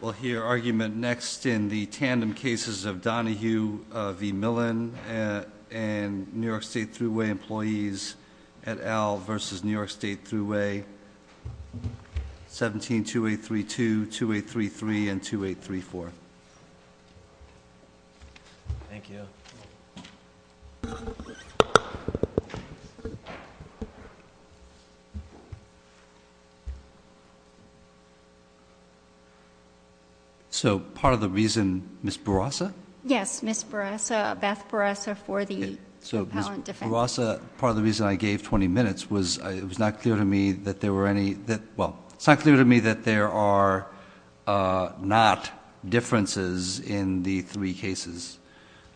We'll hear argument next in the tandem cases of Donohue v. Millen and New York State Thruway employees at Al v. New York State Thruway, 172832, 2833, and 2834. Thank you. So part of the reason, Ms. Barasa? Yes, Ms. Barasa, Beth Barasa for the propellant defense. So Ms. Barasa, part of the reason I gave 20 minutes was it was not clear to me that there were any, well, it's not clear to me that there are not differences in the three cases.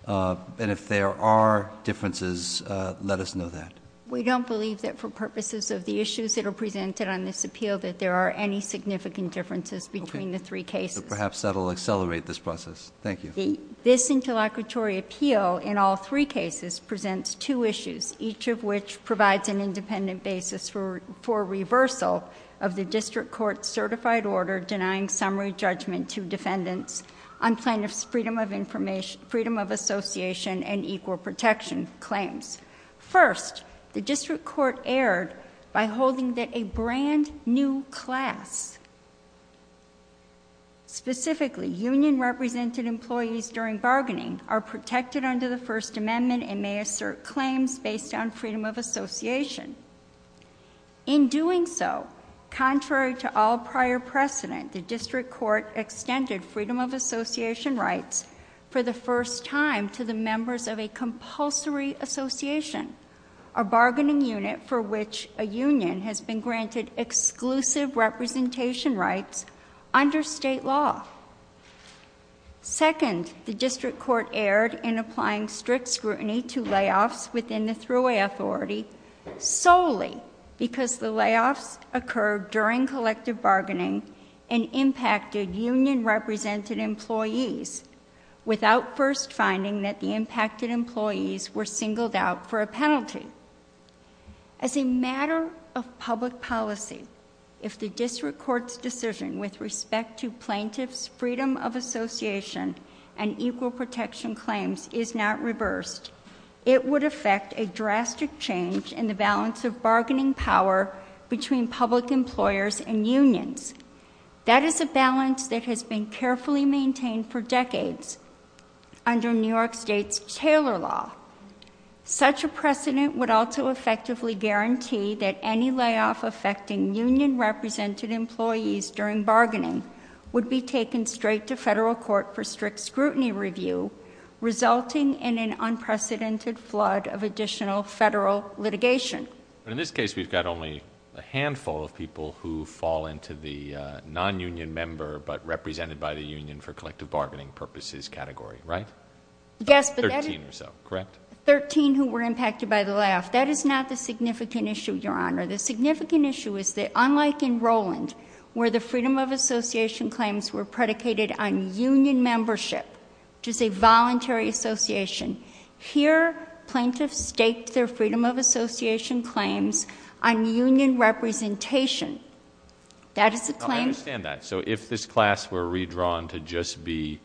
And if there are differences, let us know that. We don't believe that for purposes of the issues that are presented on this appeal that there are any significant differences between the three cases. Perhaps that will accelerate this process. Thank you. This interlocutory appeal in all three cases presents two issues, each of which provides an independent basis for reversal of the district court certified order denying summary judgment to defendants on plaintiff's freedom of association and equal protection claims. First, the district court erred by holding that a brand new class, specifically union represented employees during bargaining, are protected under the First Amendment and may assert claims based on freedom of association. In doing so, contrary to all prior precedent, the district court extended freedom of association rights for the first time to the members of a compulsory association, a bargaining unit for which a union has been granted exclusive representation rights under state law. Second, the district court erred in applying strict scrutiny to layoffs within the thruway authority solely because the layoffs occurred during collective bargaining and impacted union represented employees without first finding that the impacted employees were singled out for a penalty. As a matter of public policy, if the district court's decision with respect to plaintiff's freedom of association and equal protection claims is not reversed, it would affect a drastic change in the balance of bargaining power between public employers and unions. That is a balance that has been carefully maintained for decades under New York State's Taylor Law. Such a precedent would also effectively guarantee that any layoff affecting union represented employees during bargaining would be taken straight to federal court for strict scrutiny review, resulting in an unprecedented flood of additional federal litigation. But in this case, we've got only a handful of people who fall into the non-union member but represented by the union for collective bargaining purposes category, right? Yes. Thirteen or so, correct? Thirteen who were impacted by the layoff. I understand that. So if this class were redrawn to just be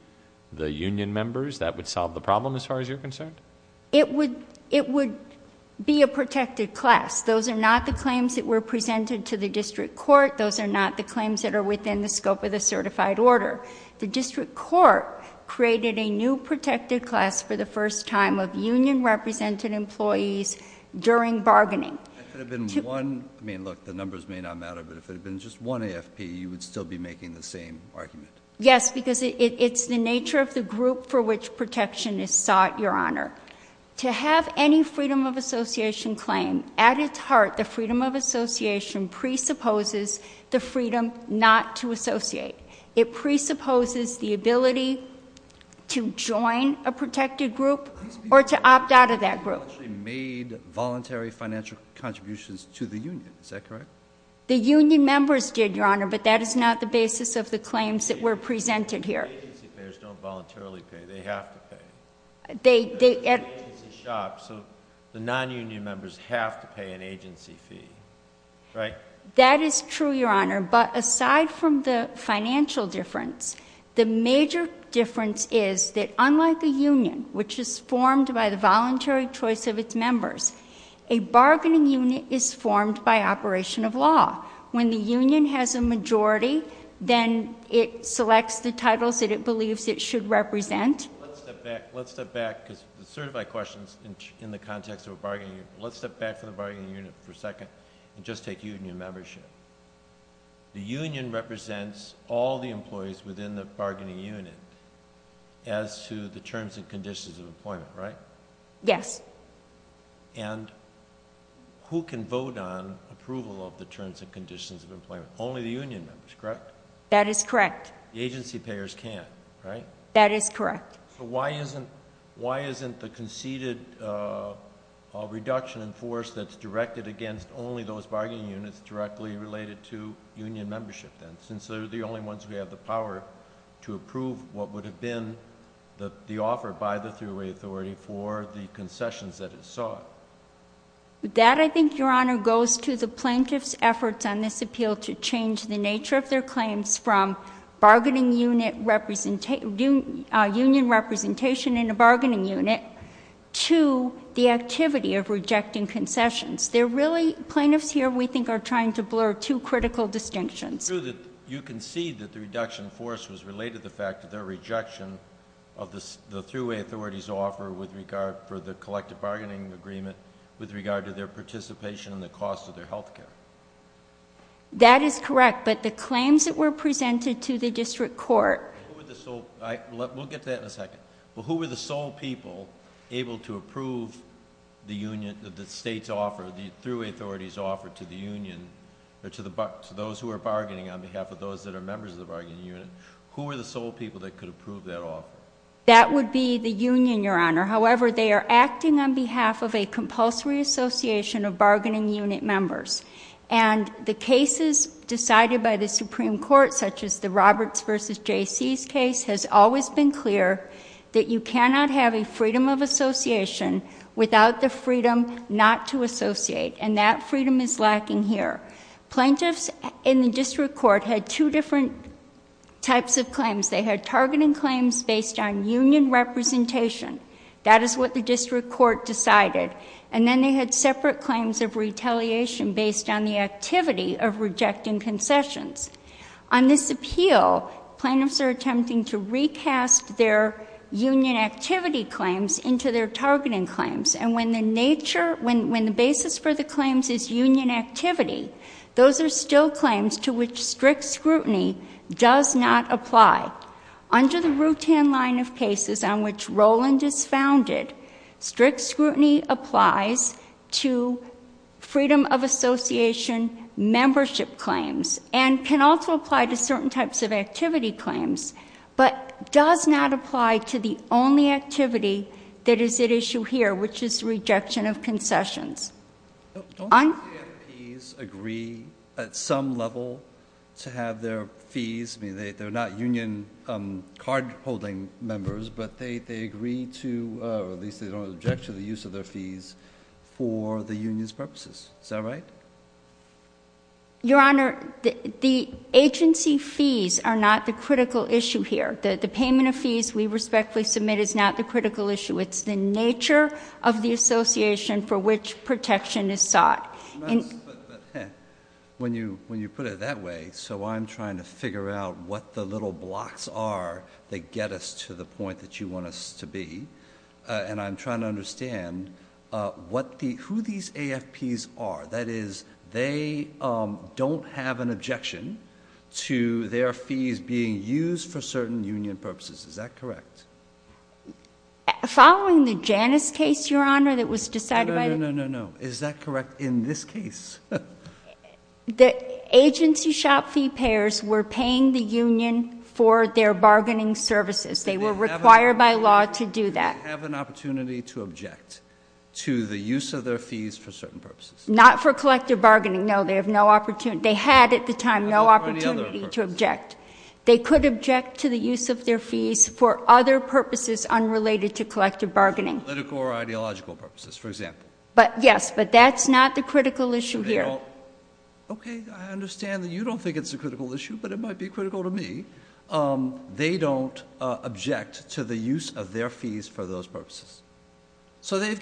the union members, that would solve the problem as far as you're concerned? It would be a protected class. Those are not the claims that were presented to the district court. Those are not the claims that are within the scope of the certified order. The district court created a new protected class for the first time of union represented employees during bargaining. If it had been one, I mean, look, the numbers may not matter, but if it had been just one AFP, you would still be making the same argument? Yes, because it's the nature of the group for which protection is sought, Your Honor. To have any freedom of association claim, at its heart, the freedom of association presupposes the freedom not to associate. It presupposes the ability to join a protected group or to opt out of that group. These people actually made voluntary financial contributions to the union. Is that correct? The union members did, Your Honor, but that is not the basis of the claims that were presented here. Agency payers don't voluntarily pay. They have to pay. It's a shop, so the non-union members have to pay an agency fee, right? That is true, Your Honor, but aside from the financial difference, the major difference is that unlike the union, which is formed by the voluntary choice of its members, a bargaining unit is formed by operation of law. When the union has a majority, then it selects the titles that it believes it should represent. Let's step back because the certified questions in the context of a bargaining unit. Let's step back from the bargaining unit for a second and just take union membership. The union represents all the employees within the bargaining unit as to the terms and conditions of employment, right? Yes. And who can vote on approval of the terms and conditions of employment? Only the union members, correct? That is correct. The agency payers can, right? That is correct. So why isn't the conceded reduction in force that's directed against only those bargaining units directly related to union membership, then, since they're the only ones who have the power to approve what would have been the offer by the three-way authority for the concessions that it sought? That, I think, Your Honor, goes to the plaintiff's efforts on this appeal to change the nature of their claims from bargaining unit union representation in a bargaining unit to the activity of rejecting concessions. They're really, plaintiffs here, we think, are trying to blur two critical distinctions. It's true that you concede that the reduction in force was related to the fact that their rejection of the three-way authority's in regard for the collective bargaining agreement with regard to their participation in the cost of their health care. That is correct. But the claims that were presented to the district court... Who were the sole... We'll get to that in a second. But who were the sole people able to approve the union, the state's offer, the three-way authority's offer to the union, or to those who are bargaining on behalf of those that are members of the bargaining unit, who were the sole people that could approve that offer? That would be the union, Your Honor. However, they are acting on behalf of a compulsory association of bargaining unit members. And the cases decided by the Supreme Court, such as the Roberts v. J.C.'s case, has always been clear that you cannot have a freedom of association without the freedom not to associate. And that freedom is lacking here. Plaintiffs in the district court had two different types of claims. They had targeting claims based on union representation. That is what the district court decided. And then they had separate claims of retaliation based on the activity of rejecting concessions. On this appeal, plaintiffs are attempting to recast their union activity claims into their targeting claims. And when the nature, when the basis for the claims is union activity, those are still claims to which strict scrutiny does not apply. Under the Rutan line of cases on which Roland is founded, strict scrutiny applies to freedom of association membership claims, and can also apply to certain types of activity claims, but does not apply to the only activity that is at issue here, which is rejection of concessions. Don't the CFPs agree at some level to have their fees, I mean, they're not union card-holding members, but they agree to, or at least they don't object to the use of their fees for the union's purposes. Is that right? Your Honor, the agency fees are not the critical issue here. The payment of fees we respectfully submit is not the critical issue. It's the nature of the association for which protection is sought. But when you put it that way, so I'm trying to figure out what the little blocks are that get us to the point that you want us to be, and I'm trying to understand who these AFPs are. That is, they don't have an objection to their fees being used for certain union purposes. Is that correct? Following the Janus case, Your Honor, that was decided by the... No, no, no, no, no. Is that correct in this case? The agency shop fee payers were paying the union for their bargaining services. They were required by law to do that. Do they have an opportunity to object to the use of their fees for certain purposes? Not for collective bargaining, no. They had at the time no opportunity to object. They could object to the use of their fees for other purposes unrelated to collective bargaining. Political or ideological purposes, for example. Yes, but that's not the critical issue here. Okay, I understand that you don't think it's a critical issue, but it might be critical to me. They don't object to the use of their fees for those purposes. So they've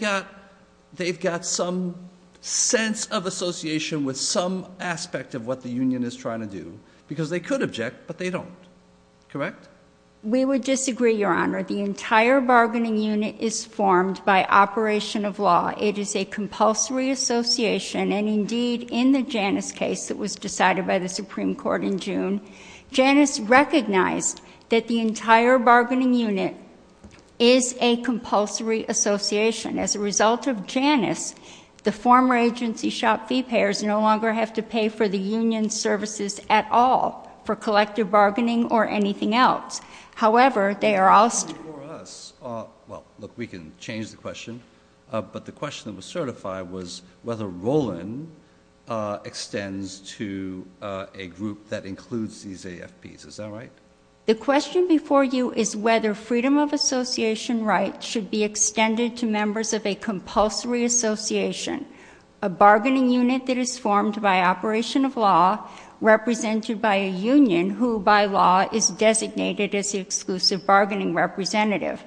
got some sense of association with some aspect of what the union is trying to do, because they could object, but they don't. Correct? We would disagree, Your Honor. The entire bargaining unit is formed by operation of law. It is a compulsory association, and indeed in the Janus case that was decided by the Supreme Court in June, Janus recognized that the entire bargaining unit is a compulsory association. As a result of Janus, the former agency shop fee payers no longer have to pay for the union's services at all, for collective bargaining or anything else. However, they are all— Well, look, we can change the question. But the question that was certified was whether Roland extends to a group that includes these AFPs. Is that right? The question before you is whether freedom of association rights should be extended to members of a compulsory association, a bargaining unit that is formed by operation of law, represented by a union who, by law, is designated as the exclusive bargaining representative.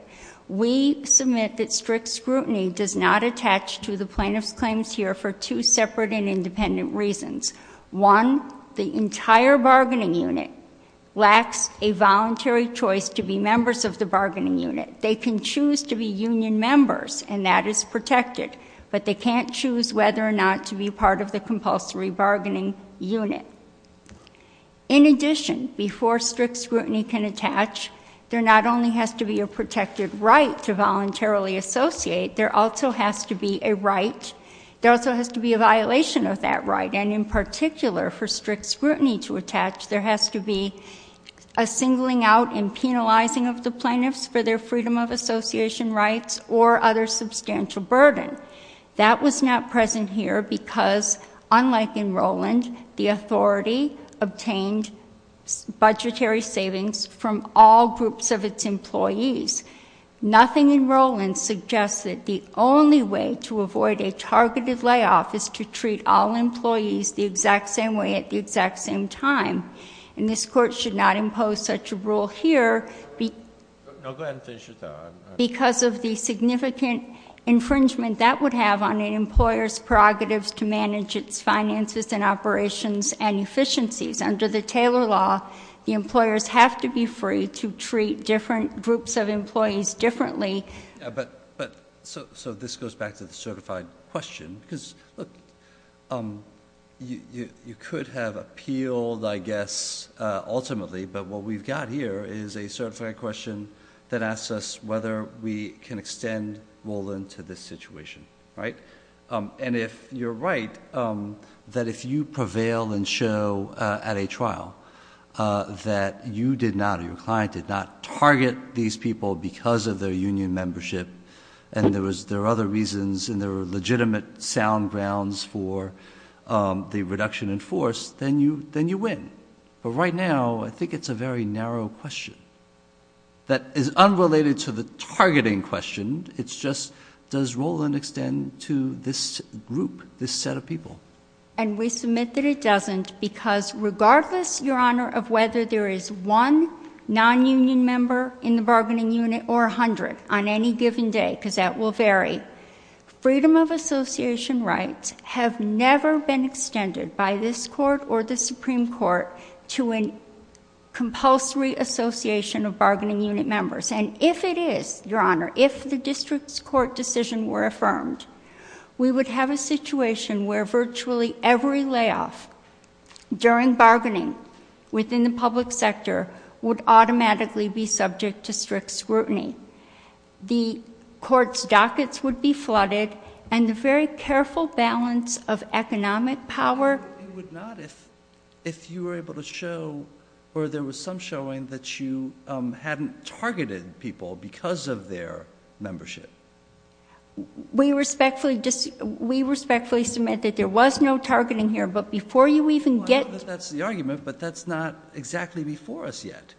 We submit that strict scrutiny does not attach to the plaintiff's claims here for two separate and independent reasons. One, the entire bargaining unit lacks a voluntary choice to be members of the bargaining unit. They can choose to be union members, and that is protected. But they can't choose whether or not to be part of the compulsory bargaining unit. In addition, before strict scrutiny can attach, there not only has to be a protected right to voluntarily associate, there also has to be a right—there also has to be a violation of that right. And in particular, for strict scrutiny to attach, there has to be a singling out and penalizing of the plaintiffs for their freedom of association rights or other substantial burden. That was not present here because, unlike in Roland, the authority obtained budgetary savings from all groups of its employees. Nothing in Roland suggests that the only way to avoid a targeted layoff is to treat all employees the exact same way at the exact same time. And this Court should not impose such a rule here because of the significant infringement that would have on an employer's prerogatives to manage its finances and operations and efficiencies. Under the Taylor Law, the employers have to be free to treat different groups of employees differently. But—so this goes back to the certified question. Because, look, you could have appealed, I guess, ultimately, but what we've got here is a certified question that asks us whether we can extend Roland to this situation, right? And if you're right, that if you prevail and show at a trial that you did not, your client did not target these people because of their union membership and there were other reasons and there were legitimate sound grounds for the reduction in force, then you win. But right now, I think it's a very narrow question that is unrelated to the targeting question. It's just, does Roland extend to this group, this set of people? And we submit that it doesn't because regardless, Your Honor, of whether there is one non-union member in the bargaining unit or 100 on any given day, because that will vary, freedom of association rights have never been extended by this Court or the Supreme Court to a compulsory association of bargaining unit members. And if it is, Your Honor, if the district's court decision were affirmed, we would have a situation where virtually every layoff during bargaining within the public sector would automatically be subject to strict scrutiny. The court's dockets would be flooded and the very careful balance of economic power... because of their membership. We respectfully submit that there was no targeting here, but before you even get... Well, I know that that's the argument, but that's not exactly before us yet.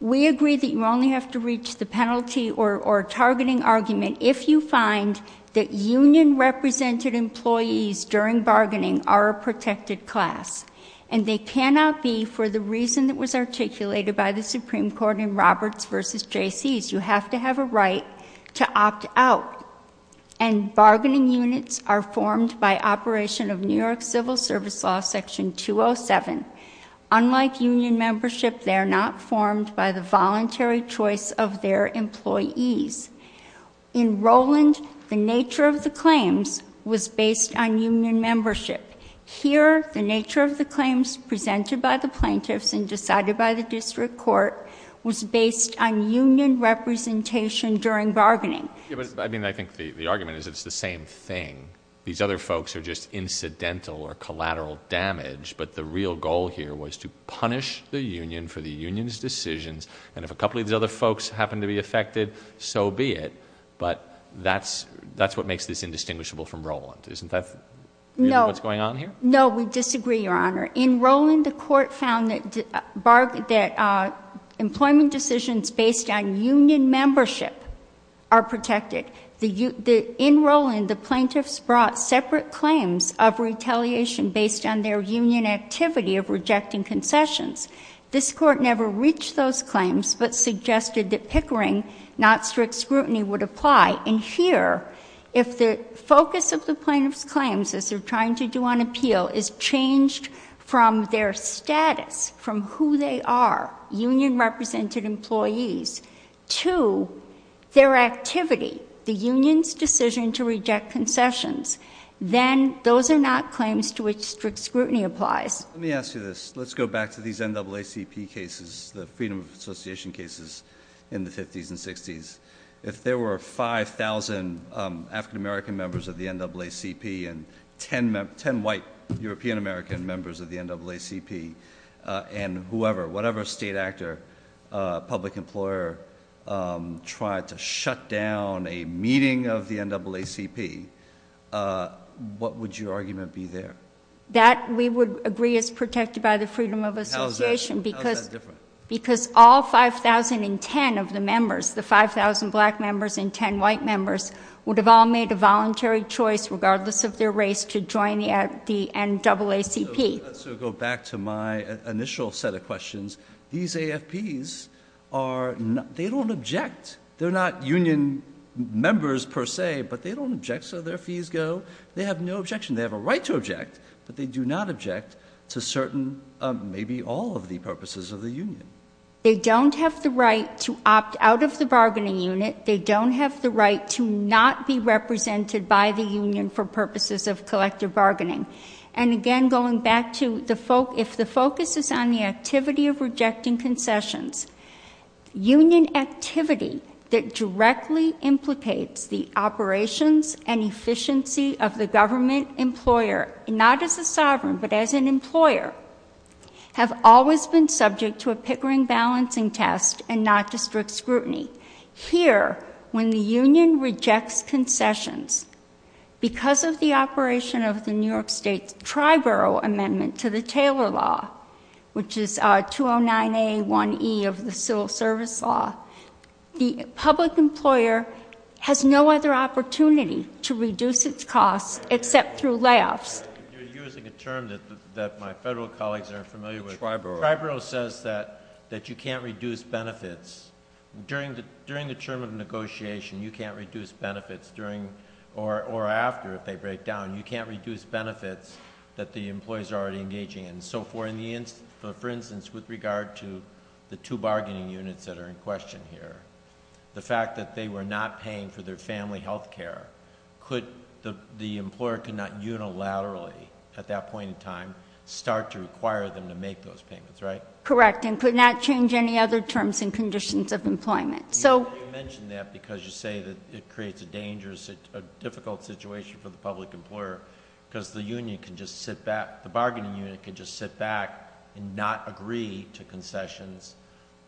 We agree that you only have to reach the penalty or targeting argument if you find that union-represented employees during bargaining are a protected class and they cannot be for the reason that was articulated by the Supreme Court in Roberts v. Jaycees. You have to have a right to opt out. And bargaining units are formed by operation of New York Civil Service Law, Section 207. Unlike union membership, they are not formed by the voluntary choice of their employees. In Rowland, the nature of the claims was based on union membership. Here, the nature of the claims presented by the plaintiffs and decided by the district court was based on union representation during bargaining. I mean, I think the argument is it's the same thing. These other folks are just incidental or collateral damage, but the real goal here was to punish the union for the union's decisions. And if a couple of these other folks happen to be affected, so be it. But that's what makes this indistinguishable from Rowland. Isn't that what's going on here? No, we disagree, Your Honor. In Rowland, the court found that employment decisions based on union membership are protected. In Rowland, the plaintiffs brought separate claims of retaliation based on their union activity of rejecting concessions. This court never reached those claims but suggested that pickering, not strict scrutiny, would apply. And here, if the focus of the plaintiff's claims, as they're trying to do on appeal, is changed from their status, from who they are, union-represented employees, to their activity, the union's decision to reject concessions, then those are not claims to which strict scrutiny applies. Let me ask you this. Let's go back to these NAACP cases, the Freedom of Association cases in the 50s and 60s. If there were 5,000 African-American members of the NAACP and 10 white European-American members of the NAACP, and whatever state actor, public employer, tried to shut down a meeting of the NAACP, what would your argument be there? That, we would agree, is protected by the Freedom of Association. How is that different? Because all 5,000 in 10 of the members, the 5,000 black members and 10 white members, would have all made a voluntary choice, regardless of their race, to join the NAACP. Let's go back to my initial set of questions. These AFPs, they don't object. They're not union members, per se, but they don't object, so their fees go. They have no objection. They have a right to object, but they do not object to certain, maybe all of the purposes of the union. They don't have the right to opt out of the bargaining unit. They don't have the right to not be represented by the union for purposes of collective bargaining. And, again, going back to if the focus is on the activity of rejecting concessions, union activity that directly implicates the operations and efficiency of the government employer, not as a sovereign, but as an employer, have always been subject to a Pickering balancing test and not to strict scrutiny. Here, when the union rejects concessions, because of the operation of the New York State Triborough Amendment to the Taylor Law, which is 209A1E of the Civil Service Law, the public employer has no other opportunity to reduce its costs except through layoffs. You're using a term that my federal colleagues aren't familiar with. Triborough. Triborough says that you can't reduce benefits. During the term of negotiation, you can't reduce benefits, or after if they break down, you can't reduce benefits that the employees are already engaging in. So, for instance, with regard to the two bargaining units that are in question here, the fact that they were not paying for their family health care, the employer could not unilaterally at that point in time start to require them to make those payments, right? Correct, and could not change any other terms and conditions of employment. You mention that because you say that it creates a dangerous, difficult situation for the public employer because the bargaining unit can just sit back and not agree to concessions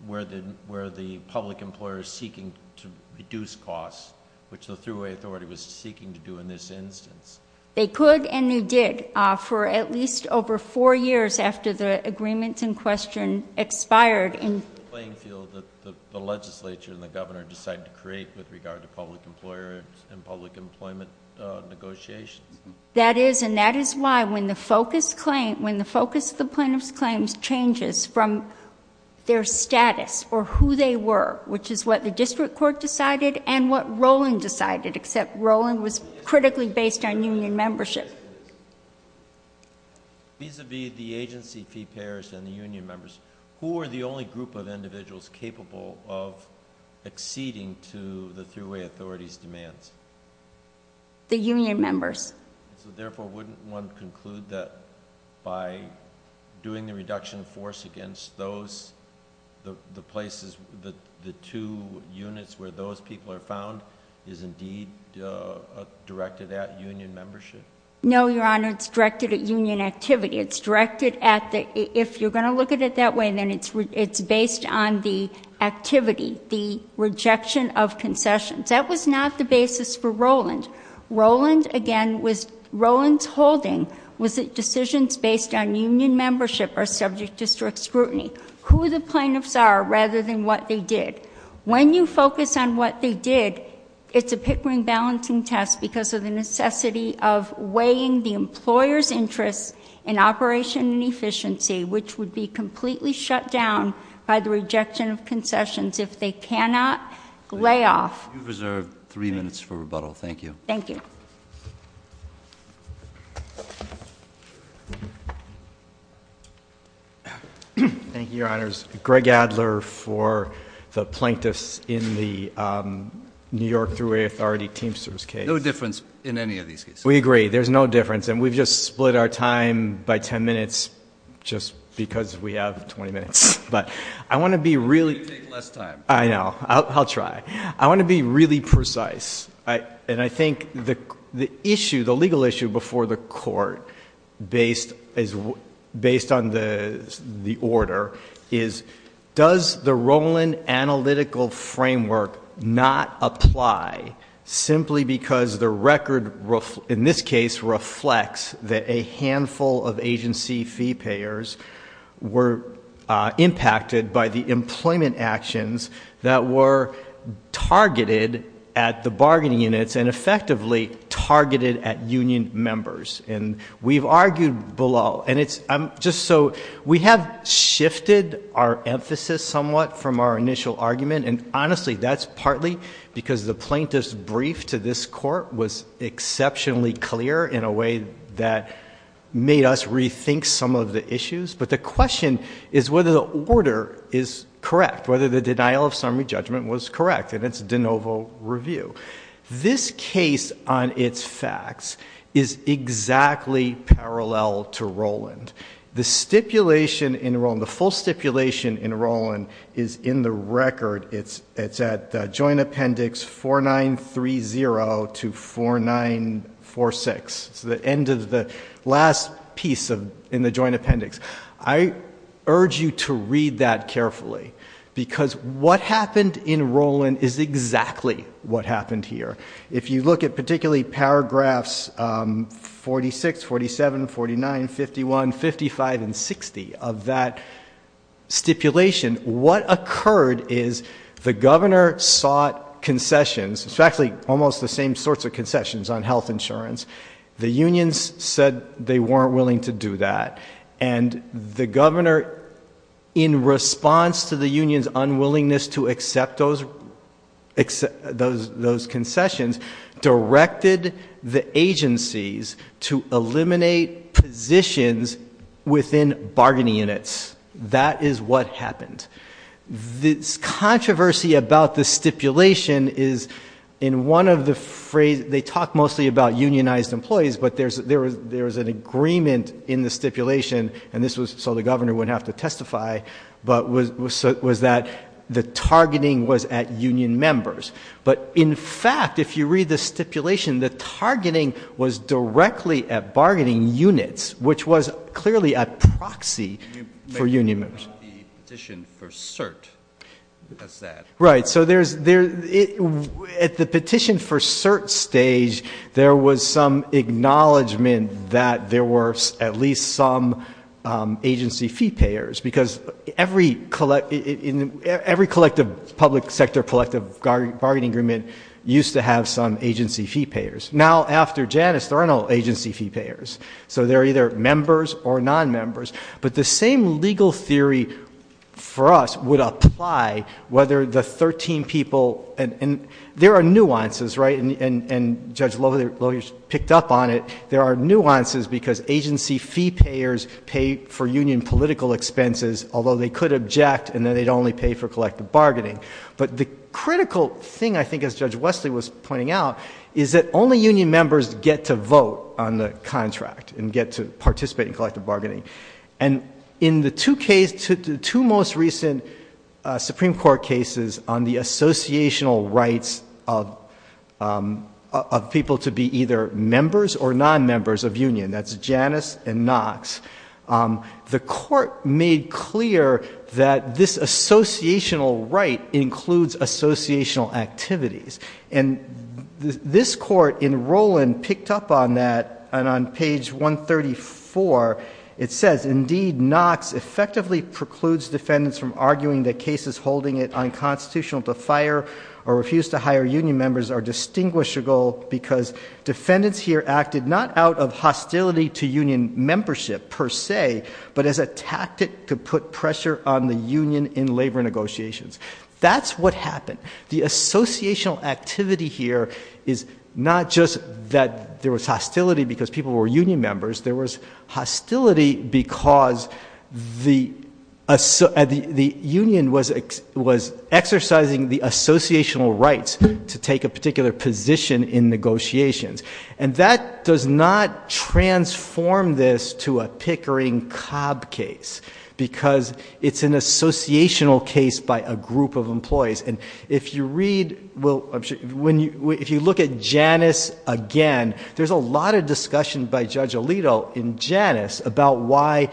where the public employer is seeking to reduce costs, which the thruway authority was seeking to do in this instance. They could and they did for at least over four years after the agreements in question expired. The playing field that the legislature and the governor decided to create with regard to public employer and public employment negotiations. That is, and that is why when the focus of the plaintiff's claims changes from their status or who they were, which is what the district court decided and what Rowling decided, except Rowling was critically based on union membership. Vis-à-vis the agency fee payers and the union members, who are the only group of individuals capable of acceding to the thruway authority's demands? The union members. So therefore, wouldn't one conclude that by doing the reduction of force against those, the places, the two units where those people are found is indeed directed at union membership? No, Your Honor, it's directed at union activity. It's directed at the, if you're going to look at it that way, then it's based on the activity, the rejection of concessions. That was not the basis for Rowland. Rowland, again, was, Rowland's holding was that decisions based on union membership are subject to strict scrutiny. Who the plaintiffs are rather than what they did. When you focus on what they did, it's a pickering balancing test because of the necessity of weighing the employer's interest in operation and efficiency, which would be completely shut down by the rejection of concessions if they cannot lay off. You've reserved three minutes for rebuttal. Thank you. Thank you. Thank you, Your Honors. Greg Adler for the plaintiffs in the New York Thruway Authority Teamsters case. No difference in any of these cases. We agree. There's no difference. And we've just split our time by 10 minutes just because we have 20 minutes. But I want to be really... You take less time. I know. I'll try. I want to be really precise. And I think the issue, the legal issue before the court based on the order is, does the Rowland analytical framework not apply simply because the record, in this case, reflects that a handful of agency fee payers were impacted by the employment actions that were targeted at the bargaining units and effectively targeted at union members? And we've argued below. And it's just so... We have shifted our emphasis somewhat from our initial argument. And honestly, that's partly because the plaintiff's brief to this court was exceptionally clear in a way that made us rethink some of the issues. But the question is whether the order is correct, whether the denial of summary judgment was correct in its de novo review. This case on its facts is exactly parallel to Rowland. The stipulation in Rowland, the full stipulation in Rowland, is in the record. It's at Joint Appendix 4930 to 4946. It's the end of the last piece in the Joint Appendix. I urge you to read that carefully because what happened in Rowland is exactly what happened here. If you look at particularly paragraphs 46, 47, 49, 51, 55, and 60 of that stipulation, what occurred is the governor sought concessions, it's actually almost the same sorts of concessions on health insurance. The unions said they weren't willing to do that. And the governor, in response to the union's unwillingness to accept those concessions, directed the agencies to eliminate positions within bargaining units. That is what happened. This controversy about the stipulation is in one of the phrases, they talk mostly about unionized employees, but there's an agreement in the stipulation, and this was so the governor wouldn't have to testify, but was that the targeting was at union members. But in fact, if you read the stipulation, the targeting was directly at bargaining units, which was clearly a proxy for union members. At the petition for cert stage, there was some acknowledgement that there were at least some agency fee payers, because every collective public sector collective bargaining agreement used to have some agency fee payers. Now, after Janus, there are no agency fee payers. So they're either members or non-members. But the same legal theory for us would apply whether the 13 people, and there are nuances, right? And Judge Lohe picked up on it. There are nuances because agency fee payers pay for union political expenses, although they could object and then they'd only pay for collective bargaining. But the critical thing, I think, as Judge Wesley was pointing out, is that only union members get to vote on the contract and get to participate in collective bargaining. And in the two most recent Supreme Court cases on the associational rights of people to be either members or non-members of union, that's Janus and Knox, the court made clear that this associational right includes associational activities. And this court in Rowland picked up on that. And on page 134, it says, Indeed, Knox effectively precludes defendants from arguing that cases holding it unconstitutional to fire or refuse to hire union members are distinguishable because defendants here acted not out of hostility to union membership per se, but as a tactic to put pressure on the union in labor negotiations. That's what happened. The associational activity here is not just that there was hostility because people were union members. There was hostility because the union was exercising the associational rights to take a particular position in negotiations. And that does not transform this to a Pickering-Cobb case because it's an associational case by a group of employees. And if you read, if you look at Janus again, there's a lot of discussion by Judge Alito in Janus about why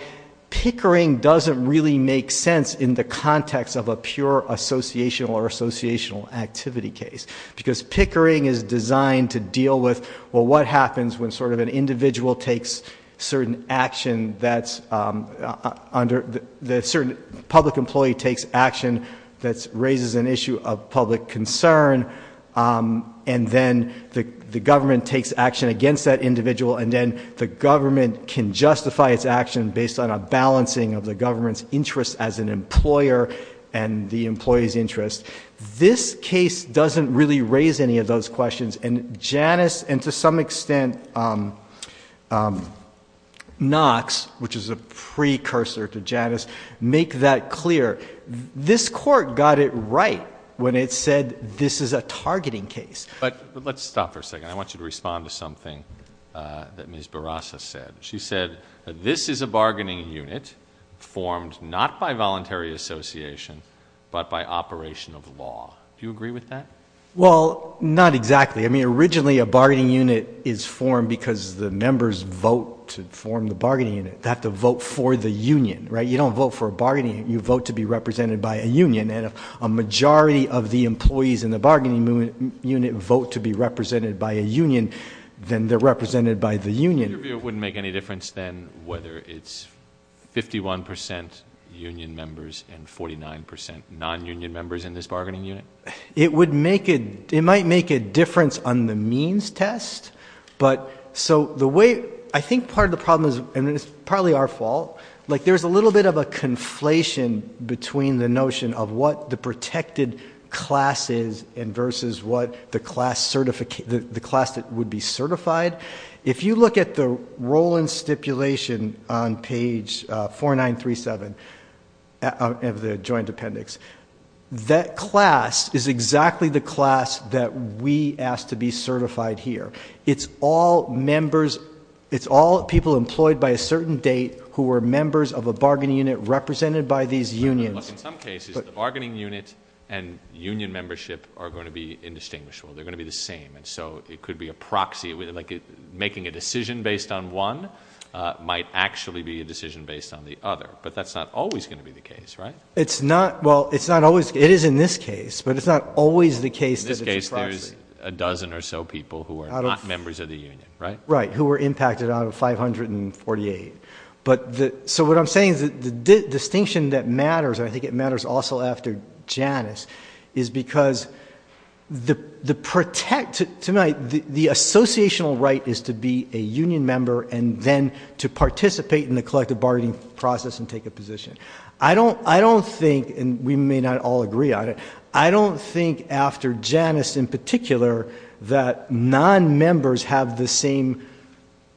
Pickering doesn't really make sense in the context of a pure associational or associational activity case. Because Pickering is designed to deal with, well, an individual takes certain action that's under, the certain public employee takes action that raises an issue of public concern, and then the government takes action against that individual, and then the government can justify its action based on a balancing of the government's interest as an employer and the employee's interest. This case doesn't really raise any of those questions. And Janus, and to some extent, Knox, which is a precursor to Janus, make that clear. This court got it right when it said this is a targeting case. But let's stop for a second. I want you to respond to something that Ms. Barasa said. She said this is a bargaining unit formed not by voluntary association but by operation of law. Do you agree with that? Well, not exactly. I mean, originally a bargaining unit is formed because the members vote to form the bargaining unit. They have to vote for the union, right? You don't vote for a bargaining unit. You vote to be represented by a union. And if a majority of the employees in the bargaining unit vote to be represented by a union, then they're represented by the union. Your view wouldn't make any difference then whether it's 51 percent union members and 49 percent non-union members in this bargaining unit? It might make a difference on the means test. But so the way I think part of the problem is, and it's probably our fault, like there's a little bit of a conflation between the notion of what the protected class is and versus what the class that would be certified. If you look at the role in stipulation on page 4937 of the joint appendix, that class is exactly the class that we ask to be certified here. It's all members, it's all people employed by a certain date who are members of a bargaining unit represented by these unions. In some cases, the bargaining unit and union membership are going to be indistinguishable. They're going to be the same. And so it could be a proxy, like making a decision based on one might actually be a decision based on the other. But that's not always going to be the case, right? It's not. Well, it's not always. It is in this case, but it's not always the case that it's a proxy. In this case, there's a dozen or so people who are not members of the union, right? Right, who were impacted out of 548. So what I'm saying is the distinction that matters, and I think it matters also after Janice, is because to me, the associational right is to be a union member and then to participate in the collective bargaining process and take a position. I don't think, and we may not all agree on it, I don't think after Janice in particular that non-members have the same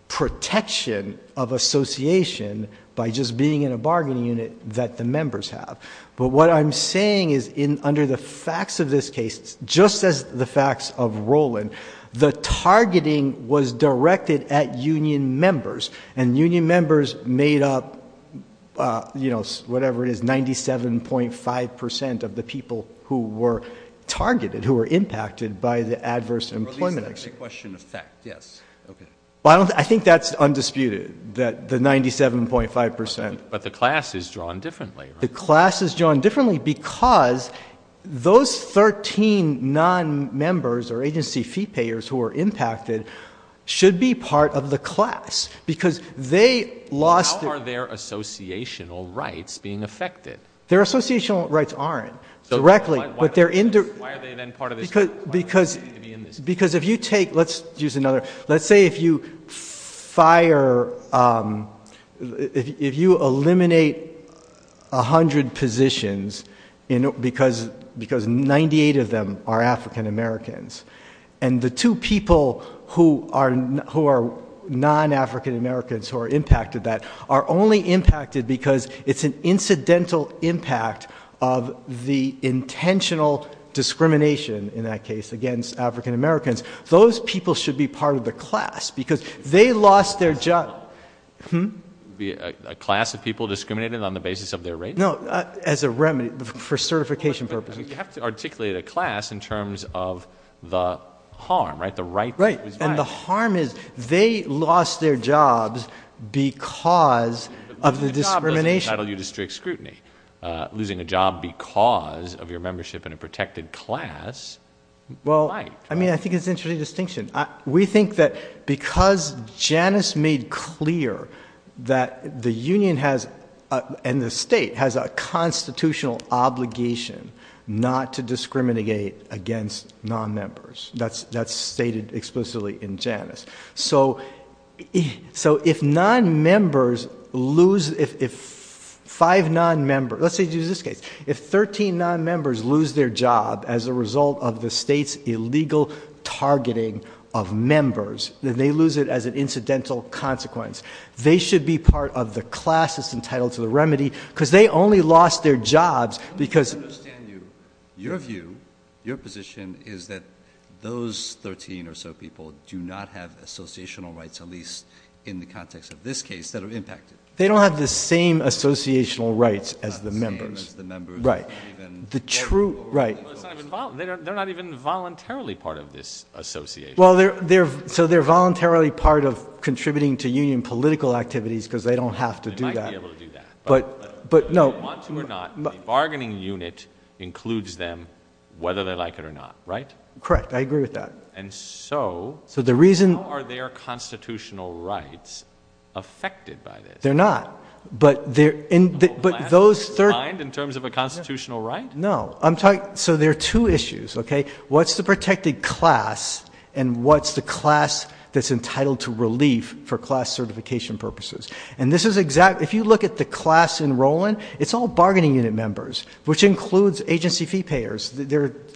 protection of association by just being in a bargaining unit that the members have. But what I'm saying is under the facts of this case, just as the facts of Roland, the targeting was directed at union members, and union members made up, you know, whatever it is, 97.5% of the people who were targeted, who were impacted by the adverse employment action. The question of fact, yes. I think that's undisputed, that the 97.5%. But the class is drawn differently, right? The class is drawn differently because those 13 non-members or agency fee payers who were impacted should be part of the class because they lost. How are their associational rights being affected? Their associational rights aren't directly. Why are they then part of this class? Because if you take, let's use another, let's say if you fire, if you eliminate 100 positions because 98 of them are African Americans and the two people who are non-African Americans who are impacted that are only impacted because it's an incidental impact of the intentional discrimination, in that case, against African Americans, those people should be part of the class because they lost their job. A class of people discriminated on the basis of their race? No, as a remedy for certification purposes. You have to articulate a class in terms of the harm, right? Right, and the harm is they lost their jobs because of the discrimination. Losing a job doesn't entitle you to strict scrutiny. Losing a job because of your membership in a protected class might. Well, I mean, I think it's an interesting distinction. We think that because Janice made clear that the union has, and the state has a constitutional obligation not to discriminate against non-members. That's stated explicitly in Janice. So if non-members lose, if five non-members, let's say you use this case, if 13 non-members lose their job as a result of the state's illegal targeting of members, then they lose it as an incidental consequence. They should be part of the class that's entitled to the remedy because they only lost their jobs because... I don't understand you. Your view, your position is that those 13 or so people do not have associational rights, at least in the context of this case, that are impacted. They don't have the same associational rights as the members. Not the same as the members. Right. They're not even voluntarily part of this association. Well, so they're voluntarily part of contributing to union political activities because they don't have to do that. They might be able to do that. But no... Whether they want to or not, the bargaining unit includes them whether they like it or not, right? Correct. I agree with that. And so... So the reason... How are their constitutional rights affected by this? They're not. But those... The whole class is aligned in terms of a constitutional right? No. So there are two issues, okay? What's the protected class and what's the class that's entitled to relief for class certification purposes? And this is exactly... If you look at the class in Rowland, it's all bargaining unit members, which includes agency fee payers.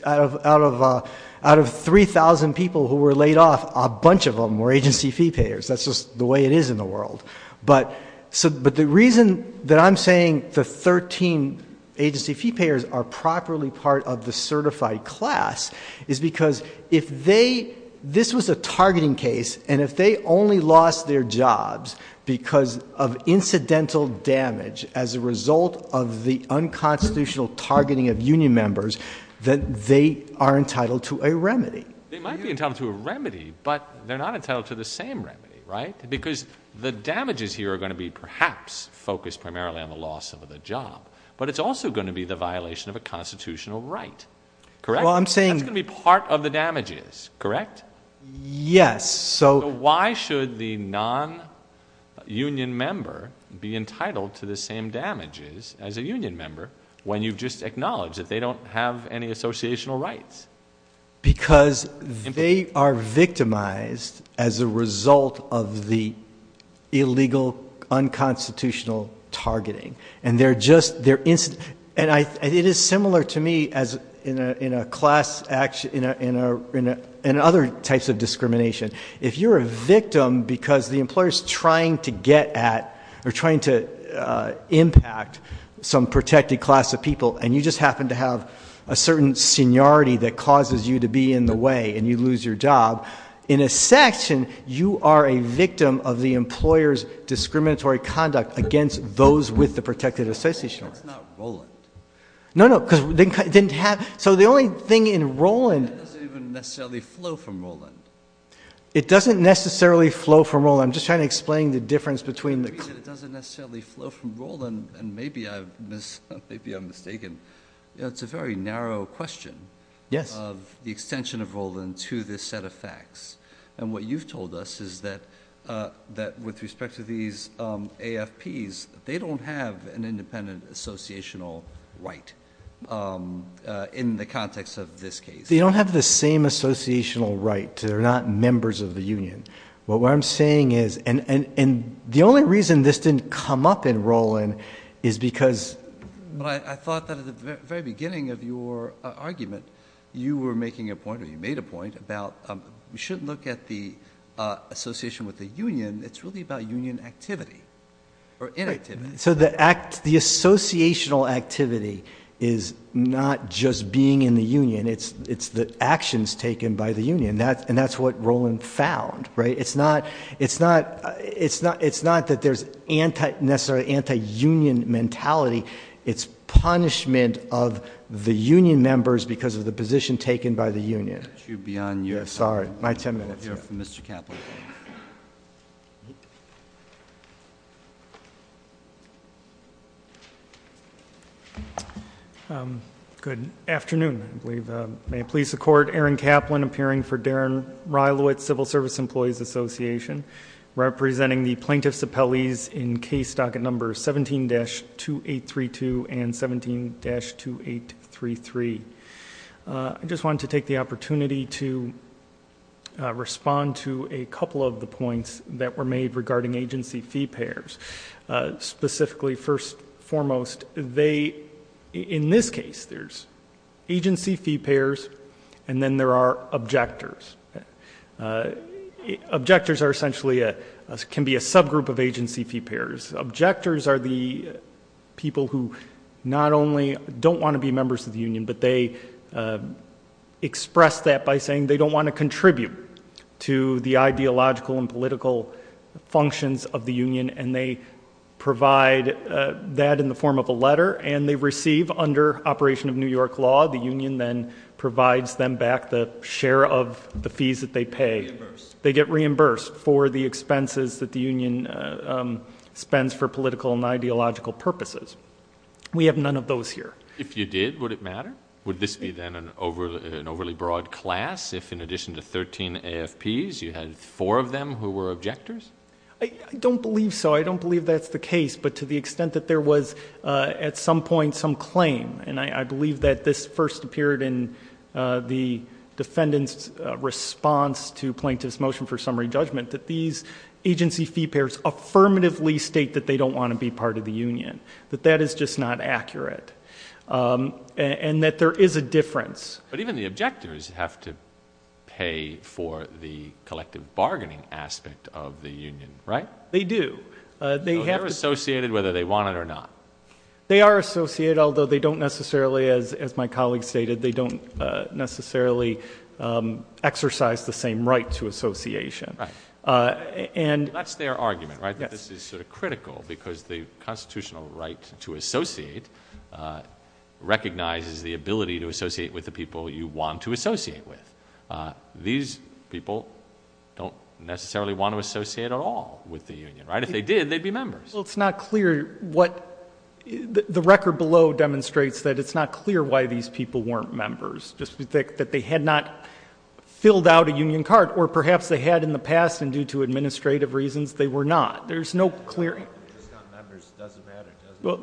Out of 3,000 people who were laid off, a bunch of them were agency fee payers. That's just the way it is in the world. But the reason that I'm saying the 13 agency fee payers are properly part of the certified class is because if they... This was a targeting case. And if they only lost their jobs because of incidental damage as a result of the unconstitutional targeting of union members, then they are entitled to a remedy. They might be entitled to a remedy, but they're not entitled to the same remedy, right? Because the damages here are going to be perhaps focused primarily on the loss of the job, but it's also going to be the violation of a constitutional right, correct? Well, I'm saying... That's going to be part of the damages, correct? Yes. So why should the non-union member be entitled to the same damages as a union member when you've just acknowledged that they don't have any associational rights? Because they are victimized as a result of the illegal unconstitutional targeting. And it is similar to me in other types of discrimination. If you're a victim because the employer's trying to get at or trying to impact some protected class of people, and you just happen to have a certain seniority that causes you to be in the way and you lose your job, in a section, you are a victim of the employer's discriminatory conduct against those with the protected associational rights. That's not Rowland. No, no. Because it didn't have... So the only thing in Rowland... That doesn't even necessarily flow from Rowland. It doesn't necessarily flow from Rowland. I'm just trying to explain the difference between the... It's a very narrow question of the extension of Rowland to this set of facts. And what you've told us is that with respect to these AFPs, they don't have an independent associational right in the context of this case. They don't have the same associational right. They're not members of the union. What I'm saying is... And the only reason this didn't come up in Rowland is because... But I thought that at the very beginning of your argument, you were making a point or you made a point about we should look at the association with the union. It's really about union activity or inactivity. So the associational activity is not just being in the union. It's the actions taken by the union, and that's what Rowland found. It's not that there's necessarily anti-union mentality. It's punishment of the union members because of the position taken by the union. Let you be on your side. Sorry. My ten minutes. Mr. Kaplan. Good afternoon. I believe... May it please the court, Aaron Kaplan, appearing for Darren Reilowitz, Civil Service Employees Association, representing the plaintiffs appellees in case docket numbers 17-2832 and 17-2833. I just wanted to take the opportunity to respond to a couple of the points that were made regarding agency fee payers. Specifically, first and foremost, they, in this case, there's agency fee payers and then there are objectors. Objectors are essentially, can be a subgroup of agency fee payers. Objectors are the people who not only don't want to be members of the union, but they express that by saying they don't want to contribute to the ideological and political functions of the union and they provide that in the form of a letter and they receive, under operation of New York law, the union then provides them back the share of the fees that they pay. They get reimbursed for the expenses that the union spends for political and ideological purposes. We have none of those here. If you did, would it matter? Would this be then an overly broad class if, in addition to 13 AFPs, you had four of them who were objectors? I don't believe so. I don't believe that's the case, but to the extent that there was, at some point, some claim, and I believe that this first appeared in the defendant's response to plaintiff's motion for summary judgment, that these agency fee payers affirmatively state that they don't want to be part of the union, that that is just not accurate, and that there is a difference. But even the objectors have to pay for the collective bargaining aspect of the union, right? They do. So they're associated whether they want it or not. They are associated, although they don't necessarily, as my colleague stated, they don't necessarily exercise the same right to association. That's their argument, right, that this is sort of critical because the constitutional right to associate recognizes the ability to associate with the people you want to associate with. These people don't necessarily want to associate at all with the union, right? If they did, they'd be members. Well, it's not clear what the record below demonstrates that it's not clear why these people weren't members, that they had not filled out a union card, or perhaps they had in the past, and due to administrative reasons, they were not. There's no clear... Well,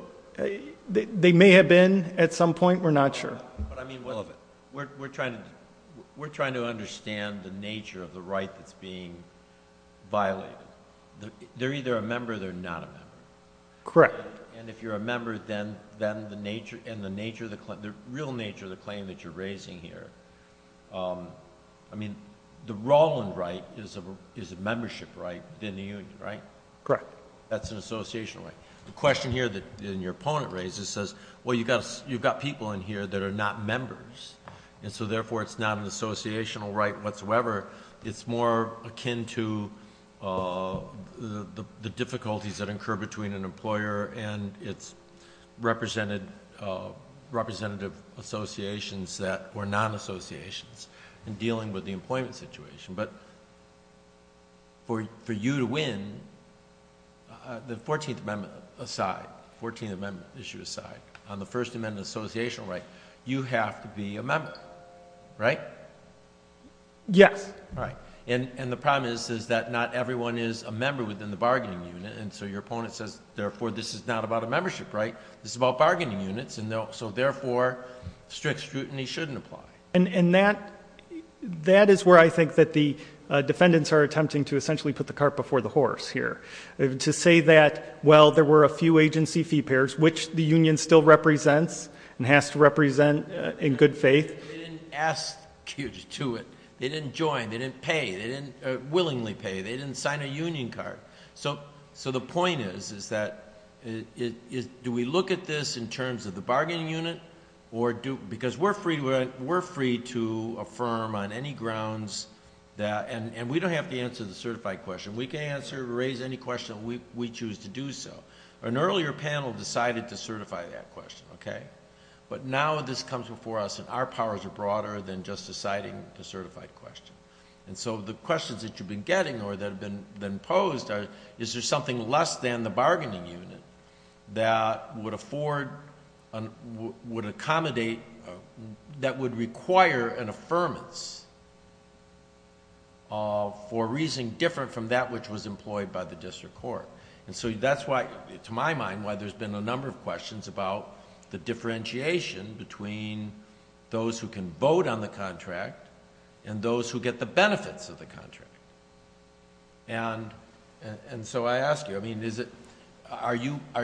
they may have been at some point. We're not sure. But I mean, we're trying to understand the nature of the right that's being violated. They're either a member or they're not a member. Correct. And if you're a member, then the real nature of the claim that you're raising here, I mean, the Rolland right is a membership right within the union, right? Correct. That's an associational right. The question here that your opponent raises says, well, you've got people in here that are not members, and so therefore it's not an associational right whatsoever. It's more akin to the difficulties that occur between an employer and its representative associations that were non-associations in dealing with the employment situation. But for you to win, the 14th Amendment aside, 14th Amendment issue aside, on the First Amendment associational right, you have to be a member, right? Yes. And the problem is that not everyone is a member within the bargaining unit, and so your opponent says, therefore, this is not about a membership right. This is about bargaining units, and so therefore strict scrutiny shouldn't apply. And that is where I think that the defendants are attempting to essentially put the cart before the horse here, to say that, well, there were a few agency fee pairs, which the union still represents and has to represent in good faith. They didn't ask you to do it. They didn't join. They didn't pay. They didn't willingly pay. They didn't sign a union card. So the point is, is that do we look at this in terms of the bargaining unit? Because we're free to affirm on any grounds that, and we don't have to answer the certified question. We can answer or raise any question we choose to do so. An earlier panel decided to certify that question, okay? But now this comes before us, and our powers are broader than just deciding the certified question. And so the questions that you've been getting or that have been posed are, is there something less than the bargaining unit that would afford, would accommodate, that would require an affirmance for a reason different from that which was employed by the district court? And so that's why, to my mind, why there's been a number of questions about the differentiation between those who can vote on the contract and those who get the benefits of the contract. And so I ask you,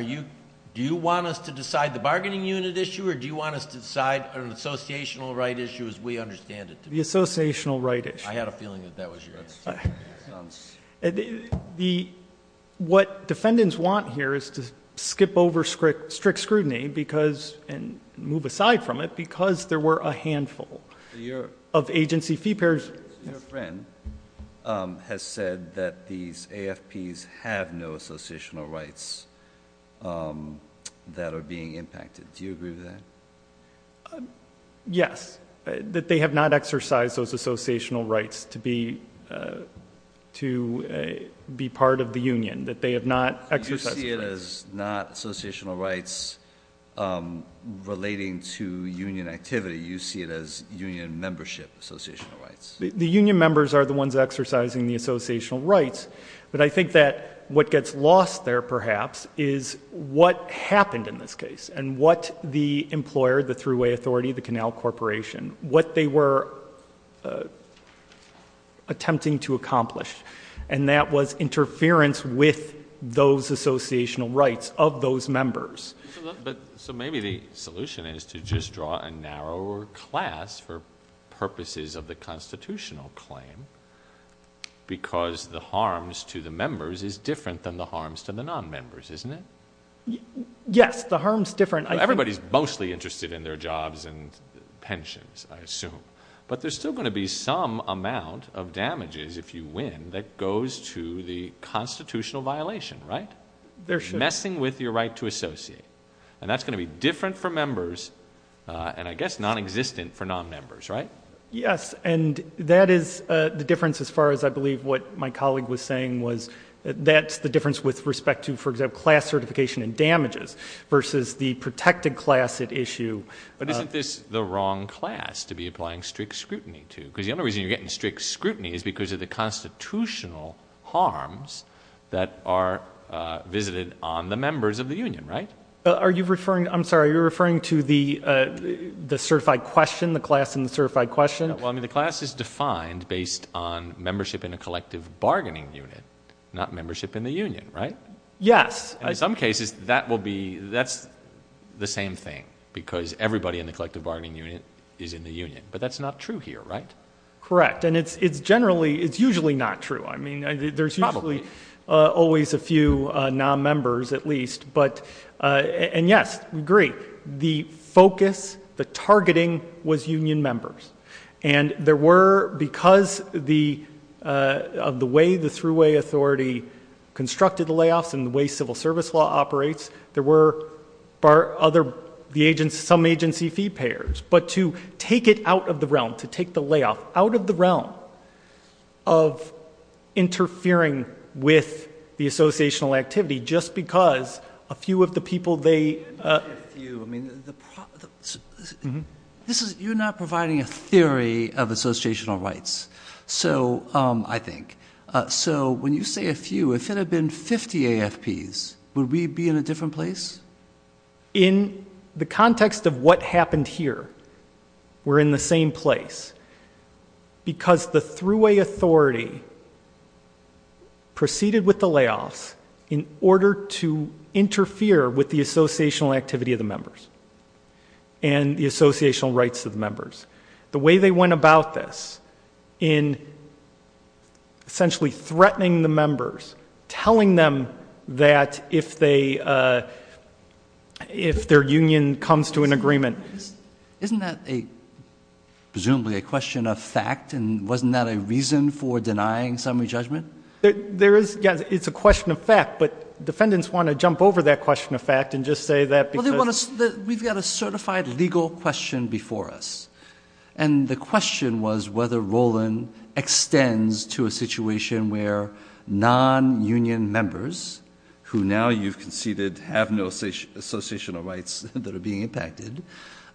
do you want us to decide the bargaining unit issue, or do you want us to decide an associational right issue as we understand it? The associational right issue. I had a feeling that that was your answer. What defendants want here is to skip over strict scrutiny and move aside from it because there were a handful of agency fee payers. Your friend has said that these AFPs have no associational rights that are being impacted. Do you agree with that? Yes, that they have not exercised those associational rights to be part of the union, that they have not exercised those rights. You see it as not associational rights relating to union activity. You see it as union membership associational rights. The union members are the ones exercising the associational rights, but I think that what gets lost there, perhaps, is what happened in this case and what the employer, the thruway authority, the canal corporation, what they were attempting to accomplish, and that was interference with those associational rights of those members. So maybe the solution is to just draw a narrower class for purposes of the constitutional claim because the harms to the members is different than the harms to the non-members, isn't it? Yes, the harm is different. Everybody is mostly interested in their jobs and pensions, I assume, but there's still going to be some amount of damages, if you win, that goes to the constitutional violation, right? There should be. Messing with your right to associate, and that's going to be different for members and, I guess, non-existent for non-members, right? Yes, and that is the difference as far as I believe what my colleague was saying was that's the difference with respect to, for example, class certification and damages versus the protected class at issue. But isn't this the wrong class to be applying strict scrutiny to? Because the only reason you're getting strict scrutiny is because of the constitutional harms that are visited on the members of the union, right? I'm sorry, are you referring to the certified question, the class in the certified question? Well, I mean, the class is defined based on membership in a collective bargaining unit, not membership in the union, right? Yes. In some cases, that will be, that's the same thing because everybody in the collective bargaining unit is in the union, but that's not true here, right? Correct, and it's generally, it's usually not true. I mean, there's usually always a few non-members at least, and yes, I agree, the focus, the targeting was union members, and there were, because of the way the thruway authority constructed the layoffs and the way civil service law operates, there were some agency fee payers, but to take it out of the realm, to take the layoff out of the realm of interfering with the associational activity just because a few of the people they... You're not providing a theory of associational rights, I think. So when you say a few, if it had been 50 AFPs, would we be in a different place? In the context of what happened here, we're in the same place because the thruway authority proceeded with the layoffs in order to interfere with the associational activity of the members and the associational rights of the members. The way they went about this in essentially threatening the members, telling them that if their union comes to an agreement... Isn't that presumably a question of fact, and wasn't that a reason for denying summary judgment? It's a question of fact, but defendants want to jump over that question of fact and just say that because... We've got a certified legal question before us, and the question was whether Roland extends to a situation where non-union members, who now you've conceded have no associational rights that are being impacted,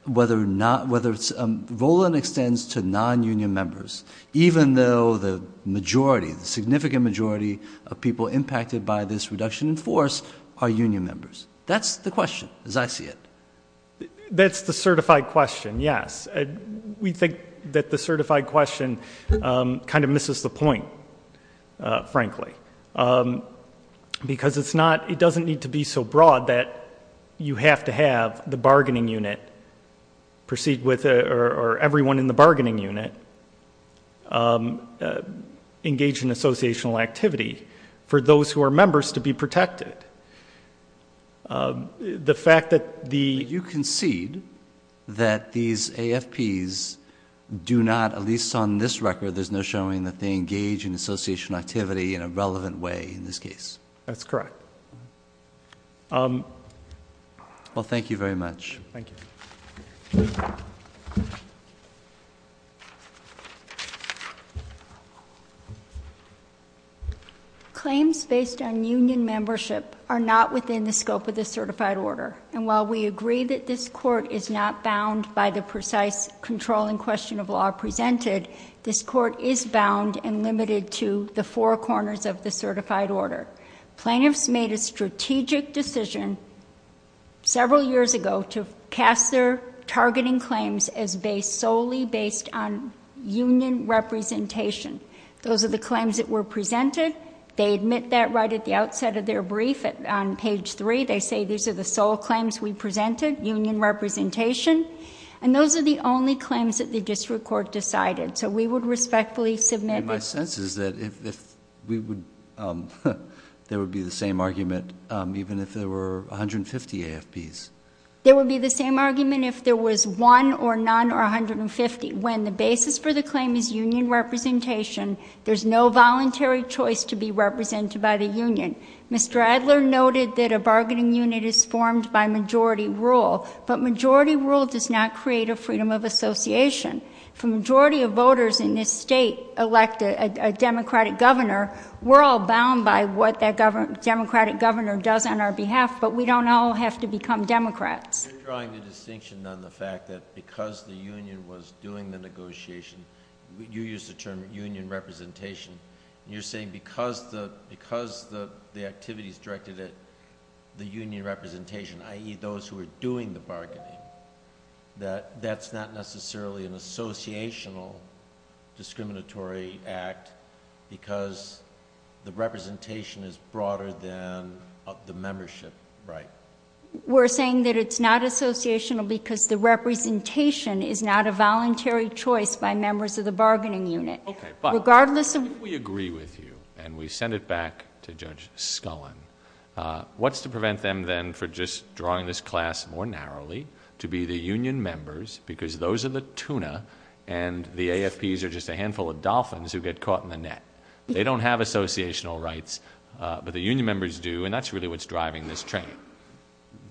whether Roland extends to non-union members even though the majority, the significant majority of people impacted by this reduction in force are union members. That's the question as I see it. That's the certified question, yes. We think that the certified question kind of misses the point, frankly, because it doesn't need to be so broad that you have to have the bargaining unit or everyone in the bargaining unit engage in associational activity for those who are members to be protected. The fact that the... You concede that these AFPs do not, at least on this record, there's no showing that they engage in associational activity in a relevant way in this case. That's correct. Well, thank you very much. Thank you. Claims based on union membership are not within the scope of this certified order, and while we agree that this court is not bound by the precise controlling question of law presented, this court is bound and limited to the four corners of the certified order. Plaintiffs made a strategic decision several years ago to cast their targeting claims as solely based on union representation. Those are the claims that were presented. They admit that right at the outset of their brief on page 3. They say these are the sole claims we presented, union representation, and those are the only claims that the district court decided. So we would respectfully submit... My sense is that there would be the same argument even if there were 150 AFPs. There would be the same argument if there was one or none or 150. When the basis for the claim is union representation, there's no voluntary choice to be represented by the union. Mr. Adler noted that a bargaining unit is formed by majority rule, but majority rule does not create a freedom of association. If a majority of voters in this state elect a Democratic governor, we're all bound by what that Democratic governor does on our behalf, but we don't all have to become Democrats. You're drawing the distinction on the fact that because the union was doing the negotiation, you used the term union representation, and you're saying because the activity is directed at the union representation, i.e., those who are doing the bargaining, that that's not necessarily an associational discriminatory act because the representation is broader than the membership right? We're saying that it's not associational because the representation is not a voluntary choice by members of the bargaining unit. Okay, but if we agree with you and we send it back to Judge Scullin, what's to prevent them then from just drawing this class more narrowly to be the union members because those are the tuna and the AFPs are just a handful of dolphins who get caught in the net. They don't have associational rights, but the union members do, and that's really what's driving this training.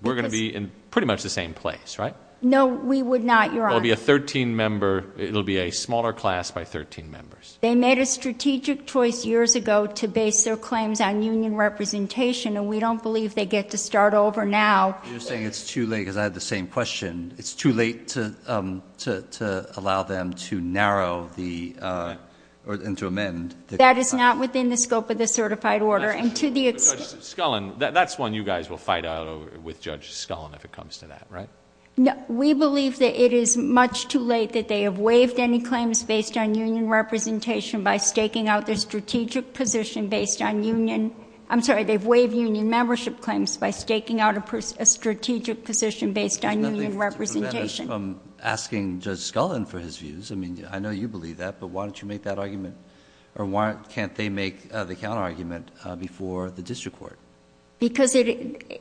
We're going to be in pretty much the same place, right? No, we would not, Your Honor. It will be a smaller class by 13 members. They made a strategic choice years ago to base their claims on union representation, and we don't believe they get to start over now. You're saying it's too late because I had the same question. It's too late to allow them to narrow and to amend. That is not within the scope of the certified order. Judge Scullin, that's one you guys will fight out with Judge Scullin if it comes to that, right? We believe that it is much too late that they have waived any claims based on union representation by staking out their strategic position based on union. I'm sorry. They've waived union membership claims by staking out a strategic position based on union representation. There's nothing to prevent us from asking Judge Scullin for his views. I mean, I know you believe that, but why don't you make that argument, or why can't they make the counterargument before the district court? Because it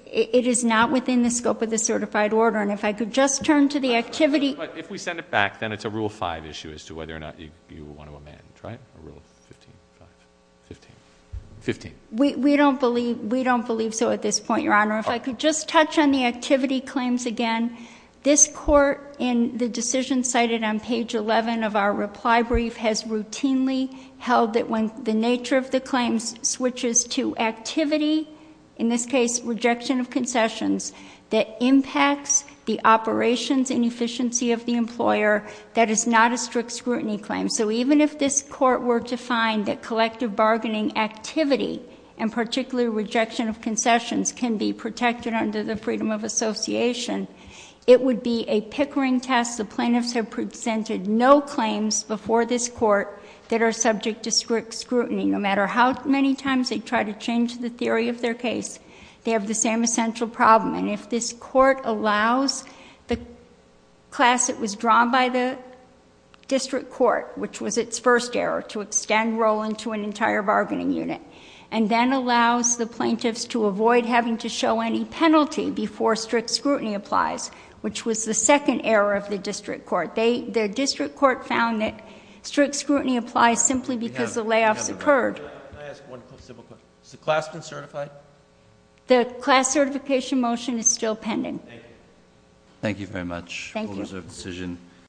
is not within the scope of the certified order, and if I could just turn to the activity. But if we send it back, then it's a Rule 5 issue as to whether or not you want to amend, right? Rule 15, 5, 15, 15. We don't believe so at this point, Your Honor. If I could just touch on the activity claims again. This court, in the decision cited on page 11 of our reply brief, has routinely held that when the nature of the claims switches to activity, in this case rejection of concessions, that impacts the operations and efficiency of the employer, that is not a strict scrutiny claim. So even if this court were to find that collective bargaining activity, and particularly rejection of concessions, can be protected under the freedom of association, it would be a pickering test. The plaintiffs have presented no claims before this court that are subject to strict scrutiny. No matter how many times they try to change the theory of their case, they have the same essential problem. And if this court allows the class that was drawn by the district court, which was its first error, to extend Rowland to an entire bargaining unit, and then allows the plaintiffs to avoid having to show any penalty before strict scrutiny applies, which was the second error of the district court. The district court found that strict scrutiny applies simply because the layoffs occurred. Can I ask one simple question? Has the class been certified? The class certification motion is still pending. Thank you. Thank you very much. Thank you.